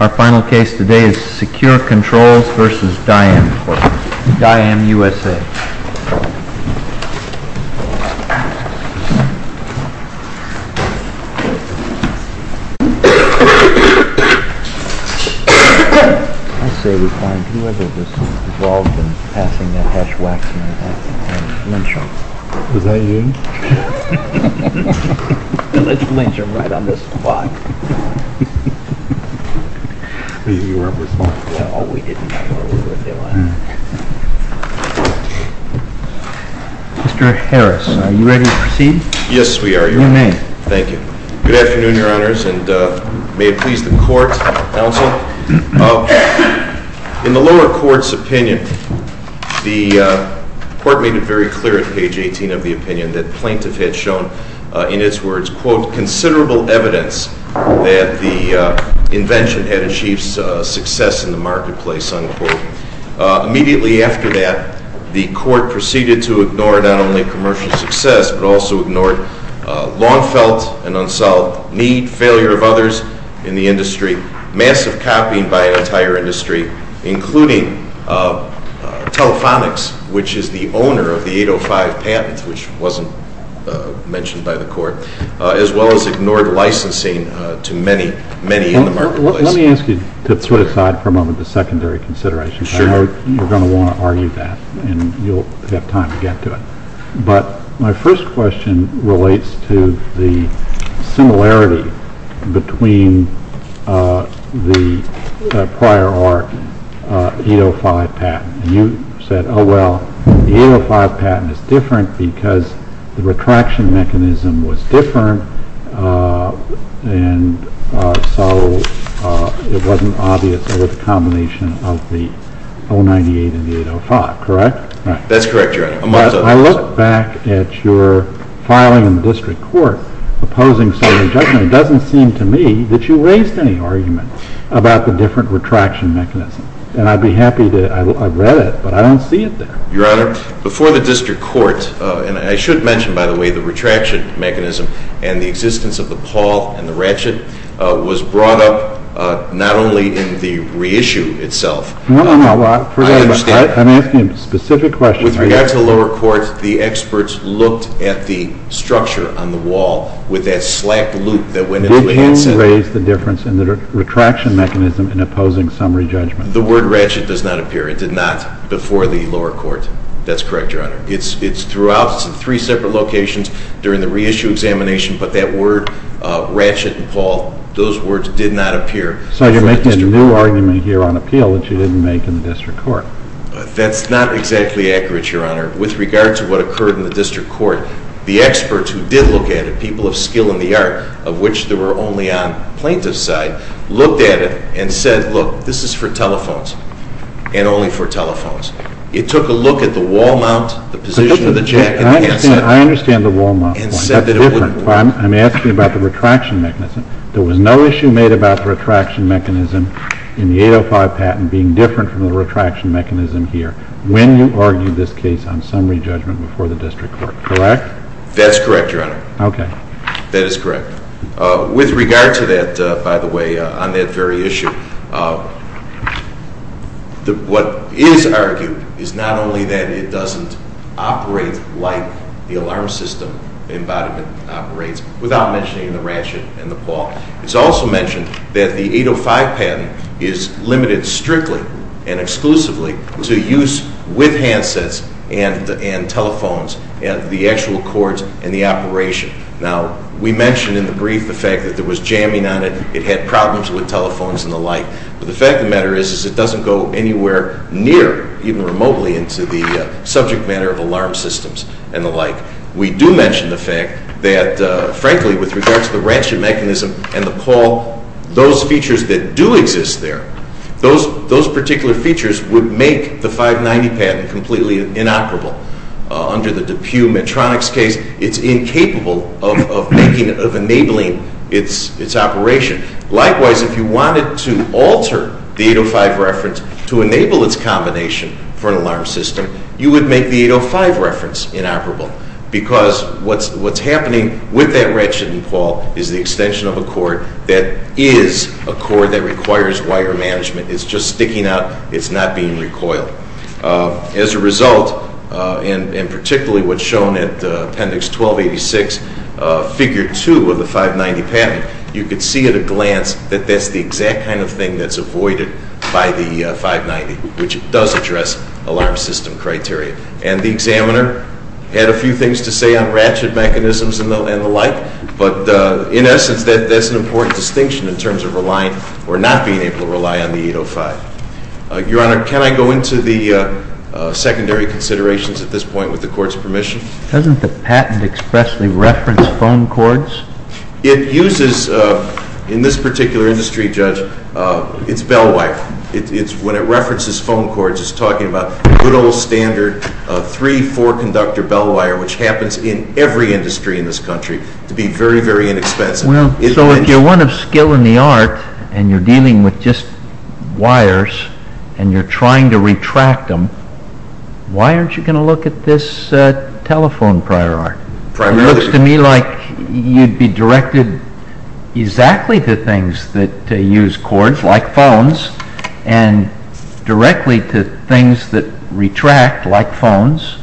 Our final case today is Se-Kure Controls v. Diam USA. I say we find whoever is involved in passing that hash-wax man out and lynch him. Is that you? Let's lynch him right on the spot. Mr. Harris, are you ready to proceed? Yes, we are, Your Honor. You may. Thank you. Good afternoon, Your Honors, and may it please the Court, Counsel. In the lower court's opinion, the Court made it very clear at page 18 of the opinion that the plaintiff had shown, in its words, quote, considerable evidence that the invention had achieved success in the marketplace, unquote. Immediately after that, the Court proceeded to ignore not only commercial success, but also ignored long-felt and unsolved need, failure of others in the industry, massive copying by an entire industry, including Telefonics, which is the owner of the 805 patent, which wasn't mentioned by the Court, as well as ignored licensing to many, many in the marketplace. Let me ask you to throw aside for a moment the secondary considerations. I know you're going to want to argue that, and you'll have time to get to it. But my first question relates to the similarity between the prior ARC 805 patent. You said, oh, well, the 805 patent is different because the retraction mechanism was different, and so it wasn't obvious over the combination of the 098 and the 805, correct? That's correct, Your Honor. I looked back at your filing in the district court opposing some of the judgment, and it doesn't seem to me that you raised any argument about the different retraction mechanism. And I'd be happy to—I read it, but I don't see it there. Your Honor, before the district court—and I should mention, by the way, the retraction mechanism and the existence of the pawl and the ratchet was brought up not only in the reissue itself— No, no, no. I'm asking a specific question. With regard to the lower court, the experts looked at the structure on the wall with that slack loop that went into the outset. We don't raise the difference in the retraction mechanism in opposing summary judgment. The word ratchet does not appear. It did not before the lower court. That's correct, Your Honor. It's throughout three separate locations during the reissue examination, but that word ratchet and pawl, those words did not appear. So you're making a new argument here on appeal that you didn't make in the district court. That's not exactly accurate, Your Honor. With regard to what occurred in the district court, the experts who did look at it, people of skill in the art, of which there were only on plaintiff's side, looked at it and said, look, this is for telephones and only for telephones. It took a look at the wall mount, the position of the jack, and the outset. I understand the wall mount point. I'm asking about the retraction mechanism. There was no issue made about the retraction mechanism in the 805 patent being different from the retraction mechanism here when you argued this case on summary judgment before the district court, correct? That's correct, Your Honor. Okay. That is correct. With regard to that, by the way, on that very issue, what is argued is not only that it doesn't operate like the alarm system embodiment operates, without mentioning the ratchet and the paw. It's also mentioned that the 805 patent is limited strictly and exclusively to use with handsets and telephones, the actual cords and the operation. Now, we mentioned in the brief the fact that there was jamming on it. It had problems with telephones and the like. But the fact of the matter is it doesn't go anywhere near, even remotely, into the subject matter of alarm systems and the like. We do mention the fact that, frankly, with regard to the ratchet mechanism and the paw, those features that do exist there, those particular features would make the 590 patent completely inoperable. Under the DePue Medtronic's case, it's incapable of enabling its operation. Likewise, if you wanted to alter the 805 reference to enable its combination for an alarm system, you would make the 805 reference inoperable. Because what's happening with that ratchet and paw is the extension of a cord that is a cord that requires wire management. It's just sticking out. It's not being recoiled. As a result, and particularly what's shown at Appendix 1286, Figure 2 of the 590 patent, you could see at a glance that that's the exact kind of thing that's avoided by the 590, which does address alarm system criteria. And the examiner had a few things to say on ratchet mechanisms and the like. But in essence, that's an important distinction in terms of relying or not being able to rely on the 805. Your Honor, can I go into the secondary considerations at this point with the Court's permission? Doesn't the patent expressly reference phone cords? It uses, in this particular industry, Judge, it's bellwife. When it references phone cords, it's talking about good old standard 3-4 conductor bellwire, which happens in every industry in this country, to be very, very inexpensive. So if you're one of skill in the art and you're dealing with just wires and you're trying to retract them, why aren't you going to look at this telephone prior art? It looks to me like you'd be directed exactly to things that use cords, like phones, and directly to things that retract, like phones.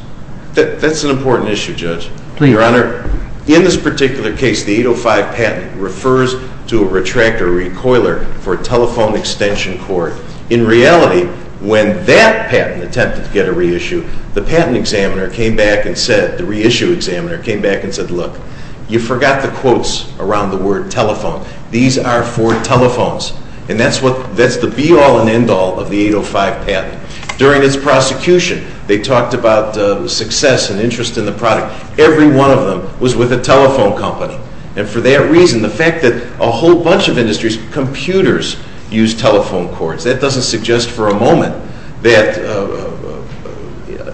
That's an important issue, Judge. Please. Your Honor, in this particular case, the 805 patent refers to a retractor recoiler for a telephone extension cord. In reality, when that patent attempted to get a reissue, the patent examiner came back and said, the reissue examiner came back and said, look, you forgot the quotes around the word telephone. These are for telephones. And that's the be-all and end-all of the 805 patent. During its prosecution, they talked about success and interest in the product. Every one of them was with a telephone company. And for that reason, the fact that a whole bunch of industries' computers use telephone cords, that doesn't suggest for a moment that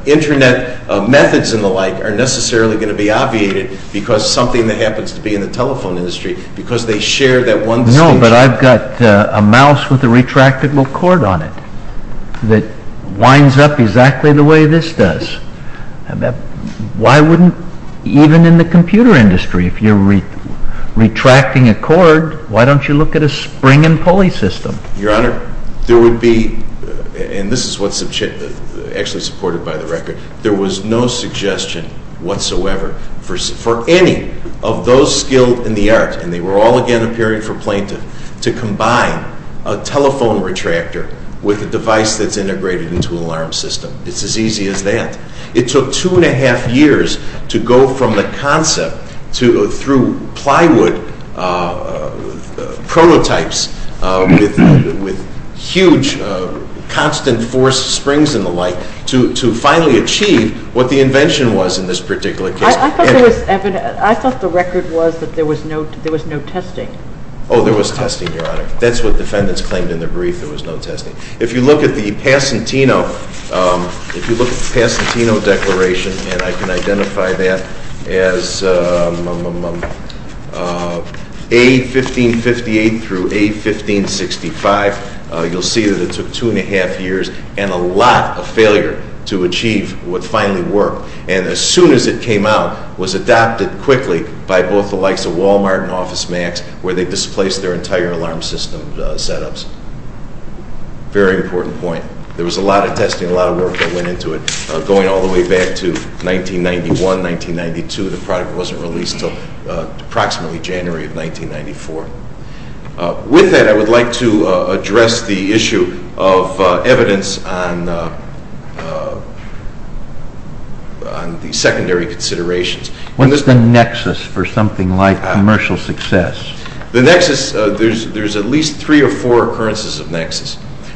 Internet methods and the like are necessarily going to be obviated because something that happens to be in the telephone industry, because they share that one station. No, but I've got a mouse with a retractable cord on it that winds up exactly the way this does. Why wouldn't, even in the computer industry, if you're retracting a cord, why don't you look at a spring and pulley system? Your Honor, there would be, and this is what's actually supported by the record, there was no suggestion whatsoever for any of those skilled in the art, and they were all, again, appearing for plaintiff, to combine a telephone retractor with a device that's integrated into an alarm system. It's as easy as that. It took two and a half years to go from the concept through plywood prototypes with huge constant force springs and the like to finally achieve what the invention was in this particular case. I thought the record was that there was no testing. Oh, there was testing, Your Honor. That's what defendants claimed in their brief, there was no testing. If you look at the Passantino Declaration, and I can identify that as A1558 through A1565, you'll see that it took two and a half years and a lot of failure to achieve what finally worked, and as soon as it came out, was adopted quickly by both the likes of Walmart and OfficeMax, where they displaced their entire alarm system setups. Very important point. There was a lot of testing, a lot of work that went into it, going all the way back to 1991, 1992. The product wasn't released until approximately January of 1994. With that, I would like to address the issue of evidence on the secondary considerations. What's the nexus for something like commercial success? The nexus, there's at least three or four occurrences of nexus.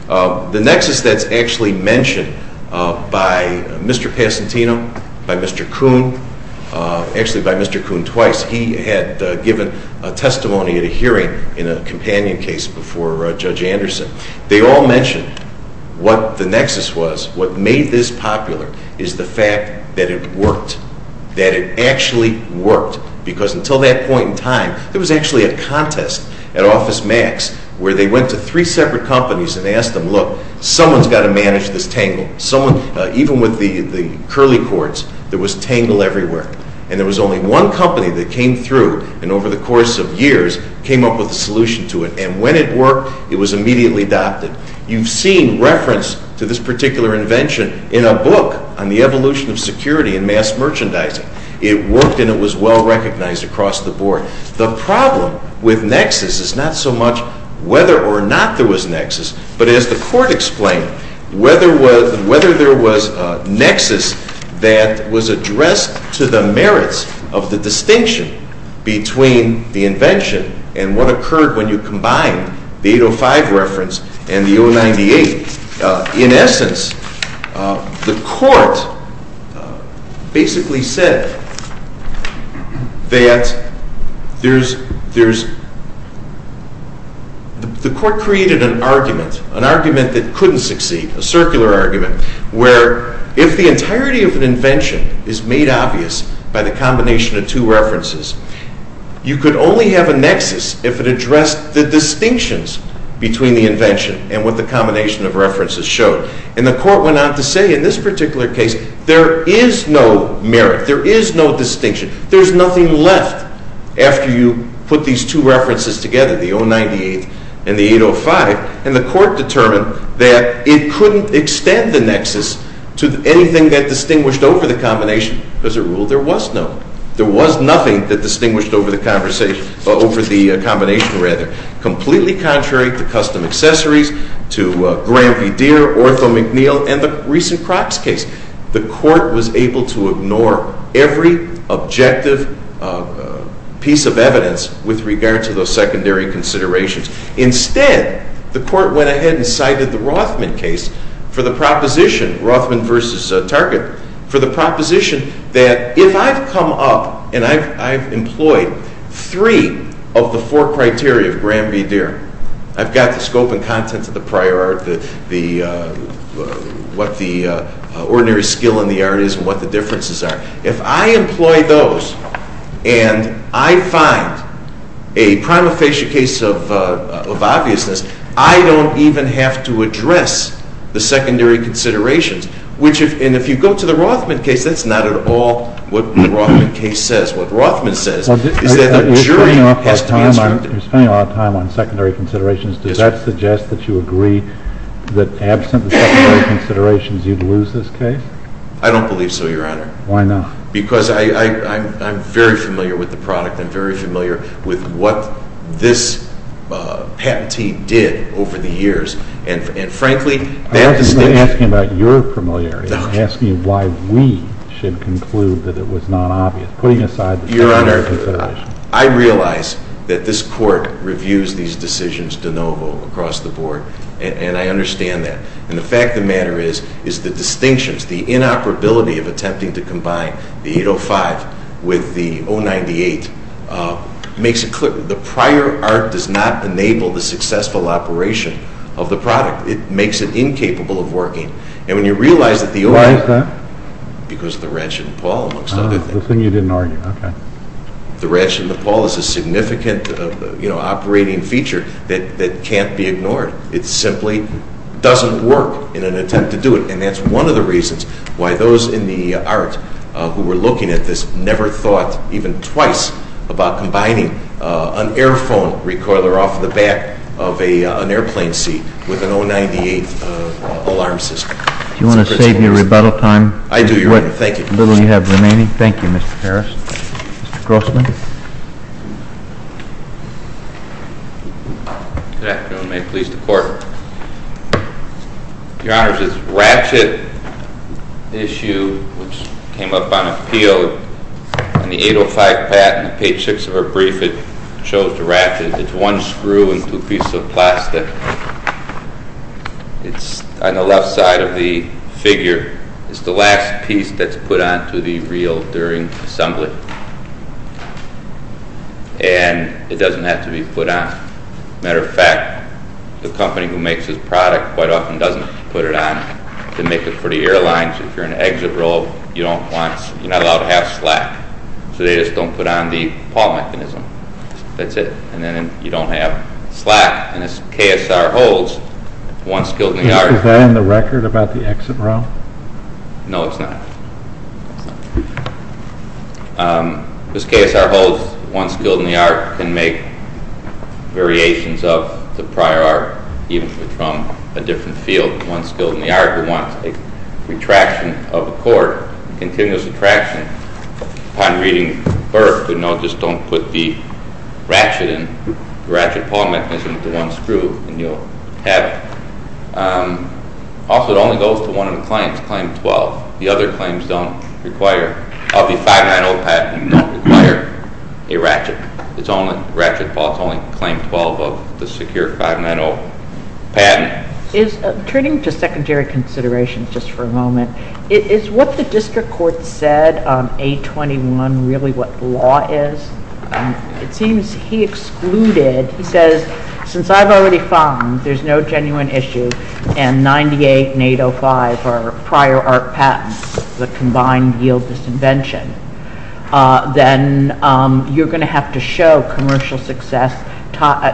The nexus that's actually mentioned by Mr. Passantino, by Mr. Kuhn, actually by Mr. Kuhn twice. He had given a testimony at a hearing in a companion case before Judge Anderson. They all mentioned what the nexus was. What made this popular is the fact that it worked, that it actually worked, because until that point in time, there was actually a contest at OfficeMax where they went to three separate companies and asked them, look, someone's got to manage this tangle. Even with the curly cords, there was tangle everywhere, and there was only one company that came through and over the course of years came up with a solution to it, and when it worked, it was immediately adopted. You've seen reference to this particular invention in a book on the evolution of security in mass merchandising. It worked, and it was well recognized across the board. The problem with nexus is not so much whether or not there was nexus, but as the Court explained, whether there was a nexus that was addressed to the merits of the distinction between the invention and what occurred when you combined the 805 reference and the 098. In essence, the Court basically said that there's—the Court created an argument, an argument that couldn't succeed, a circular argument, where if the entirety of an invention is made obvious by the combination of two references, you could only have a nexus if it addressed the distinctions between the invention and what the combination of references showed, and the Court went on to say in this particular case, there is no merit. There is no distinction. There's nothing left after you put these two references together, the 098 and the 805, and the Court determined that it couldn't extend the nexus to anything that distinguished over the combination. As a rule, there was none. There was nothing that distinguished over the combination, completely contrary to custom accessories, to Grampy-Deer, Ortho McNeil, and the recent Crocs case. The Court was able to ignore every objective piece of evidence with regard to those secondary considerations. Instead, the Court went ahead and cited the Rothman case for the proposition, Rothman v. Target, for the proposition that if I've come up and I've employed three of the four criteria of Grampy-Deer, I've got the scope and contents of the prior art, what the ordinary skill in the art is and what the differences are. If I employ those and I find a prima facie case of obviousness, I don't even have to address the secondary considerations. And if you go to the Rothman case, that's not at all what the Rothman case says. What Rothman says is that the jury has to be instructed. You're spending a lot of time on secondary considerations. Does that suggest that you agree that absent the secondary considerations, you'd lose this case? I don't believe so, Your Honor. Why not? Because I'm very familiar with the product. I'm very familiar with what this patentee did over the years. And frankly, that distinction— I'm not asking about your familiarity. I'm asking why we should conclude that it was not obvious, putting aside the secondary considerations. Your Honor, I realize that this Court reviews these decisions de novo across the board, and I understand that. And the fact of the matter is, is the distinctions, the inoperability of attempting to combine the 805 with the 098 makes it clear. The prior art does not enable the successful operation of the product. It makes it incapable of working. And when you realize that the— Why is that? Because of the ranch and the pawl, amongst other things. The thing you didn't argue, okay. The ranch and the pawl is a significant operating feature that can't be ignored. It simply doesn't work in an attempt to do it. And that's one of the reasons why those in the art who were looking at this never thought even twice about combining an air phone recoiler off the back of an airplane seat with an 098 alarm system. Do you want to save your rebuttal time? I do, Your Honor. Thank you. With what little you have remaining. Thank you, Mr. Harris. Mr. Grossman. Good afternoon. May it please the Court. Your Honor, this ratchet issue which came up on appeal in the 805 patent, page 6 of our brief, it shows the ratchet. It's one screw and two pieces of plastic. It's on the left side of the figure. It's the last piece that's put onto the reel during assembly. And it doesn't have to be put on. Matter of fact, the company who makes this product quite often doesn't put it on. They make it for the airlines. If you're in the exit row, you're not allowed to have slack. So they just don't put on the pawl mechanism. That's it. And then you don't have slack. And this KSR holds, one skill in the art. Is that on the record about the exit row? No, it's not. This KSR holds, one skill in the art. Can make variations of the prior art, even from a different field. One skill in the art who wants a retraction of a cord, continuous retraction. Upon reading Burke, who no, just don't put the ratchet pawl mechanism into one screw and you'll have it. Also, it only goes to one of the clients, claim 12. The other claims don't require, of the 590 patent, don't require a ratchet. It's only ratchet pawl, it's only claim 12 of the secure 590 patent. Turning to secondary considerations just for a moment. Is what the district court said, 821, really what the law is? It seems he excluded, he says, since I've already found there's no genuine issue, and 98 and 805 are prior art patents, the combined yield disinvention. Then you're going to have to show commercial success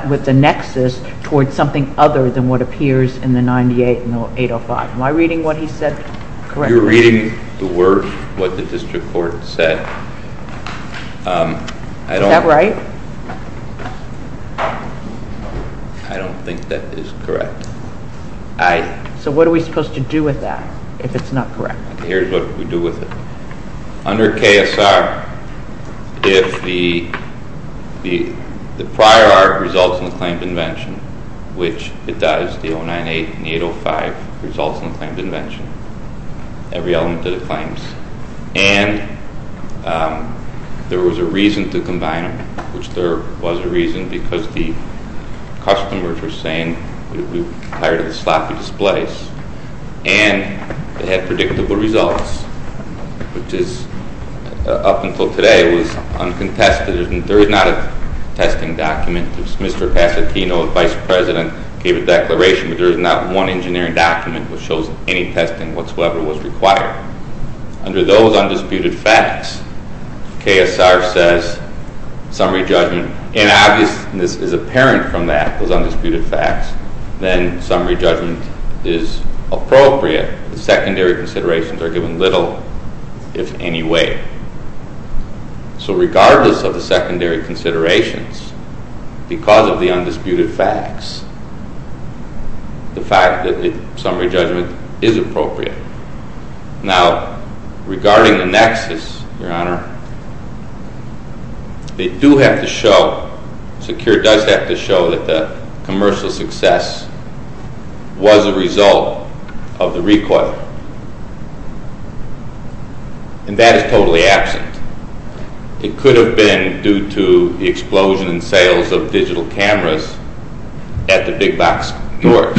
with the nexus towards something other than what appears in the 98 and 805. Am I reading what he said correctly? You're reading the word, what the district court said. Is that right? I don't think that is correct. So what are we supposed to do with that, if it's not correct? Here's what we do with it. Under KSR, if the prior art results in a claimed invention, which it does, the 098 and 805 results in a claimed invention. Every element of the claims. And there was a reason to combine them. Which there was a reason, because the customers were saying, we're tired of the sloppy displays. And they had predictable results. Which is, up until today, was uncontested. There is not a testing document. Mr. Pasatino, the vice president, gave a declaration, but there is not one engineering document which shows any testing whatsoever was required. Under those undisputed facts, KSR says, summary judgment. And obviousness is apparent from that, those undisputed facts. Then summary judgment is appropriate. The secondary considerations are given little, if any way. So regardless of the secondary considerations, because of the undisputed facts, the fact that the summary judgment is appropriate. Now, regarding the nexus, your honor, they do have to show, SECURE does have to show that the commercial success was a result of the recoil. And that is totally absent. It could have been due to the explosion in sales of digital cameras at the big box stores.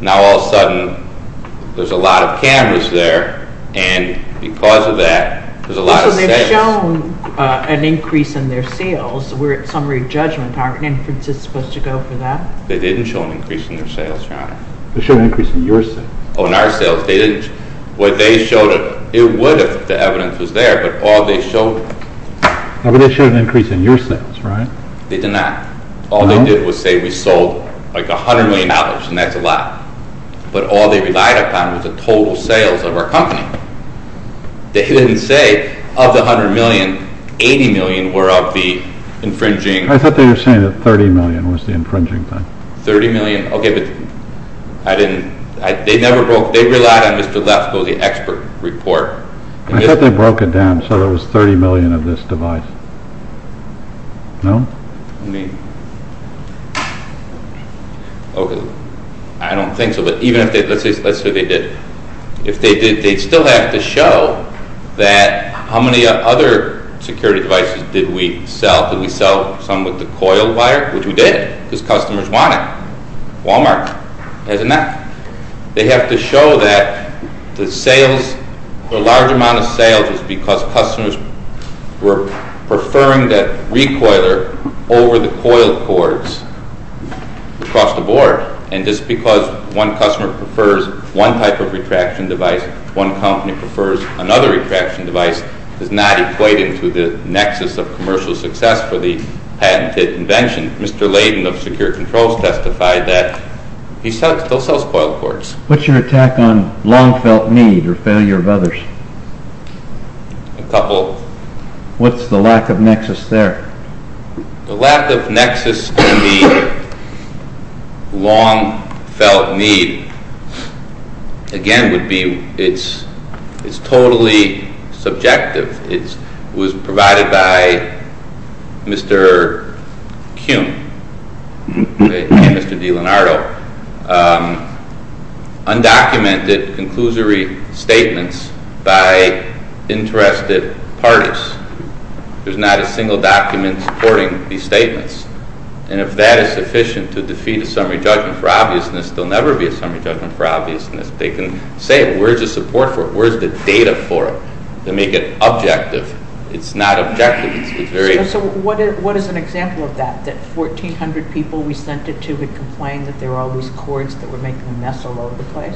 Now all of a sudden, there's a lot of cameras there, and because of that, there's a lot of sales. So they've shown an increase in their sales. We're at summary judgment. Aren't inferences supposed to go for that? They didn't show an increase in their sales, your honor. They showed an increase in your sales. Oh, in our sales. They didn't. What they showed, it would if the evidence was there, but all they showed... No, but they showed an increase in your sales, right? They did not. No? All they did was say we sold, like, $100 million, and that's a lot. But all they relied upon was the total sales of our company. They didn't say of the $100 million, $80 million were of the infringing... I thought they were saying that $30 million was the infringing thing. $30 million. Okay, but I didn't... They never broke... They relied on Mr. Lefkoe, the expert report. I thought they broke it down so there was $30 million of this device. No? I mean... Okay. I don't think so, but even if they... Let's say they did. If they did, they'd still have to show that how many other security devices did we sell. Some with the coil wire, which we did because customers want it. Walmart has enough. They have to show that the sales, the large amount of sales, is because customers were preferring that recoiler over the coil cords across the board. And just because one customer prefers one type of retraction device, one company prefers another retraction device, does not equate him to the nexus of commercial success for the patented invention. Mr. Layden of Secure Controls testified that he still sells coil cords. What's your attack on long-felt need or failure of others? A couple. What's the lack of nexus there? The lack of nexus in the long-felt need, again, would be it's totally subjective. It was provided by Mr. Kuhn and Mr. DiLeonardo. Undocumented, conclusory statements by interested parties. There's not a single document supporting these statements. And if that is sufficient to defeat a summary judgment for obviousness, there will never be a summary judgment for obviousness. They can say it. Where is the support for it? Where is the data for it to make it objective? It's not objective. So what is an example of that, that 1,400 people we sent it to had complained that there were all these cords that were making a mess all over the place?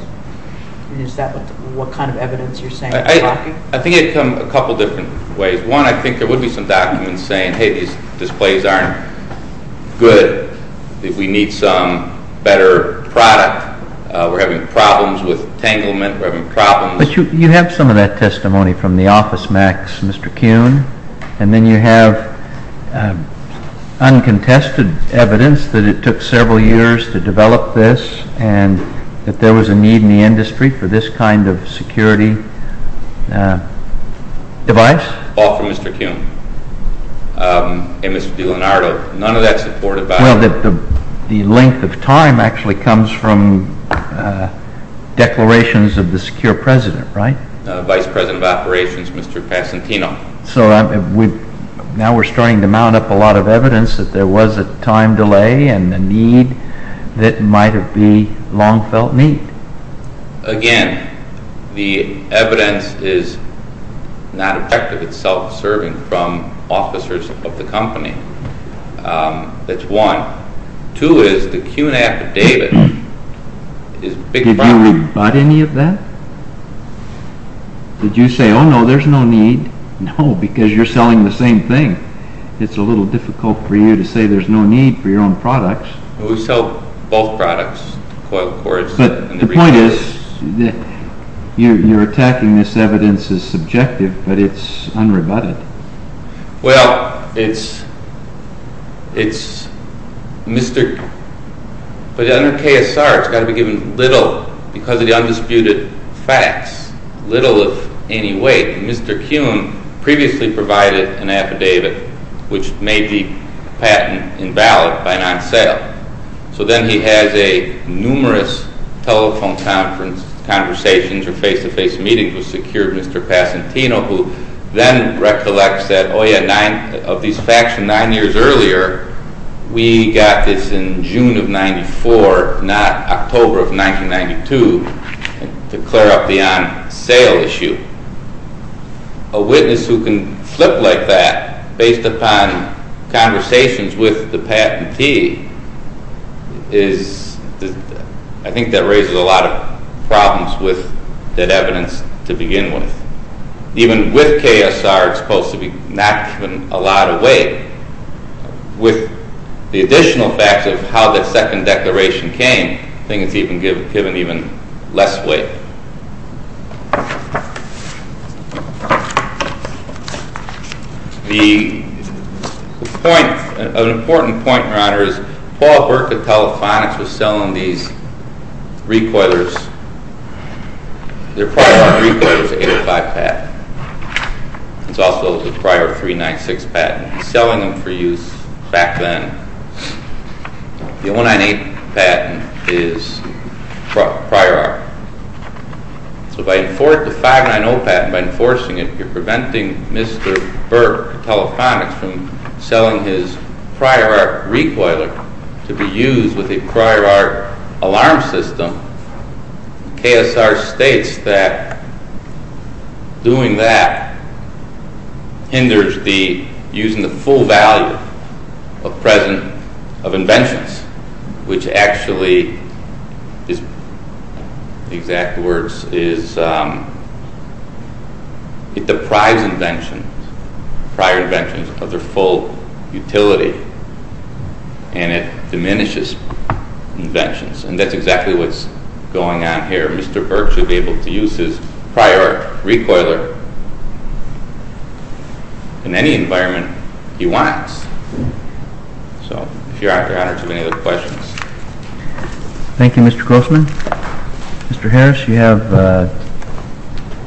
Is that what kind of evidence you're saying? I think it would come a couple different ways. One, I think there would be some documents saying, hey, these displays aren't good. We need some better product. We're having problems with entanglement. We're having problems. But you have some of that testimony from the OfficeMax, Mr. Kuhn, and then you have uncontested evidence that it took several years to develop this and that there was a need in the industry for this kind of security device. All from Mr. Kuhn and Mr. DiLonardo. None of that support about it. Well, the length of time actually comes from declarations of the secure president, right? Vice President of Operations, Mr. Passantino. So now we're starting to mount up a lot of evidence that there was a time delay and the need that might have been long felt need. Again, the evidence is not effective. It's self-absorbing from officers of the company. That's one. Two is the Q&A affidavit is a big problem. Did you rebut any of that? Did you say, oh, no, there's no need? No, because you're selling the same thing. It's a little difficult for you to say there's no need for your own products. We sell both products, coil cords. But the point is you're attacking this evidence as subjective, but it's unrebutted. Well, it's Mr. Kuhn. But under KSR, it's got to be given little because of the undisputed facts, little of any weight. Mr. Kuhn previously provided an affidavit which may be patent invalid by non-sale. So then he has numerous telephone conversations or face-to-face meetings with secured Mr. Passantino, who then recollects that, oh, yeah, of these facts from nine years earlier, we got this in June of 94, not October of 1992, to clear up the on-sale issue. A witness who can flip like that based upon conversations with the patentee is, I think that raises a lot of problems with that evidence to begin with. Even with KSR, it's supposed to be not given a lot of weight. With the additional facts of how that second declaration came, I think it's given even less weight. The point, an important point, Your Honor, is Paul Burke of Telefonics was selling these recoilers, their prior recoilers, 805 patent. It's also the prior 396 patent. He's selling them for use back then. The 198 patent is prior art. So by enforcing the 590 patent, by enforcing it, you're preventing Mr. Burke of Telefonics from selling his prior art recoiler to be used with a prior art alarm system. KSR states that doing that hinders using the full value of inventions, which actually, the exact words is, it deprives prior inventions of their full utility and it diminishes inventions. And that's exactly what's going on here. Mr. Burke should be able to use his prior art recoiler in any environment he wants. So, if Your Honor has any other questions. Thank you, Mr. Grossman. Mr. Harris, you have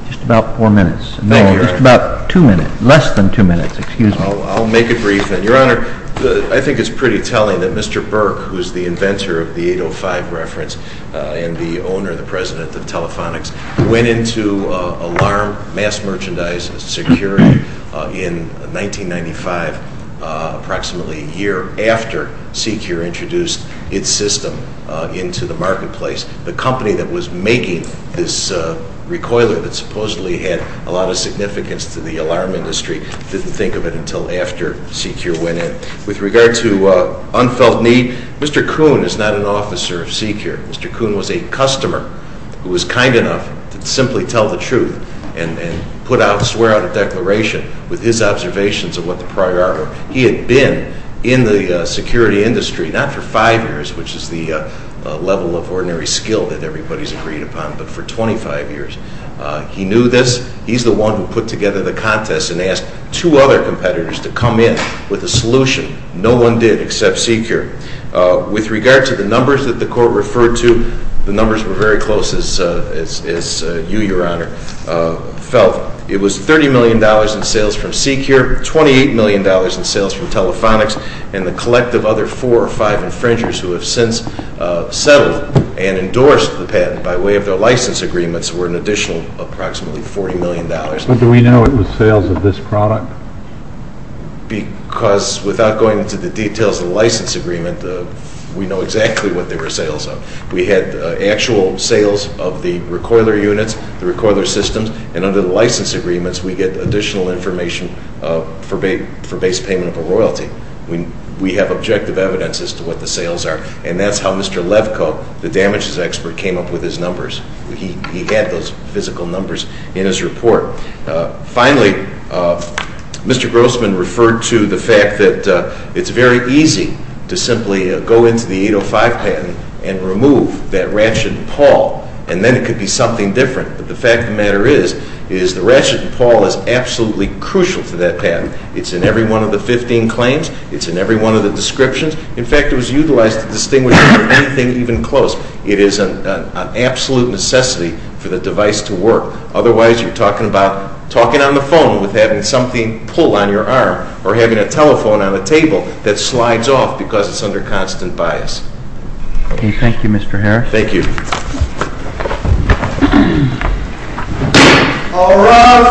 just about four minutes. Thank you, Your Honor. No, just about two minutes, less than two minutes. Excuse me. I'll make it brief then. Your Honor, I think it's pretty telling that Mr. Burke, who's the inventor of the 805 reference and the owner, the president of Telefonics, went into alarm mass merchandise security in 1995, approximately a year after Secure introduced its system into the marketplace. The company that was making this recoiler that supposedly had a lot of significance to the alarm industry didn't think of it until after Secure went in. With regard to unfelt need, Mr. Kuhn is not an officer of Secure. Mr. Kuhn was a customer who was kind enough to simply tell the truth and put out, swear out a declaration with his observations of what the prior art were. He had been in the security industry, not for five years, which is the level of ordinary skill that everybody's agreed upon, but for 25 years. He knew this. He's the one who put together the contest and asked two other competitors to come in with a solution. No one did except Secure. With regard to the numbers that the court referred to, the numbers were very close, as you, Your Honor, felt. It was $30 million in sales from Secure, $28 million in sales from Telefonics, and the collective other four or five infringers who have since settled and endorsed the patent by way of their license agreements were an additional approximately $40 million. But do we know it was sales of this product? Because without going into the details of the license agreement, we know exactly what they were sales of. We had actual sales of the recoiler units, the recoiler systems, and under the license agreements we get additional information for base payment of a royalty. We have objective evidence as to what the sales are, and that's how Mr. Levko, the damages expert, came up with his numbers. He had those physical numbers in his report. Finally, Mr. Grossman referred to the fact that it's very easy to simply go into the 805 patent and remove that ratchet and pawl, and then it could be something different. But the fact of the matter is, is the ratchet and pawl is absolutely crucial to that patent. It's in every one of the 15 claims. It's in every one of the descriptions. In fact, it was utilized to distinguish it from anything even close. It is an absolute necessity for the device to work. Otherwise, you're talking about talking on the phone with having something pull on your arm or having a telephone on a table that slides off because it's under constant bias. Thank you, Mr. Harris. Thank you. All rise.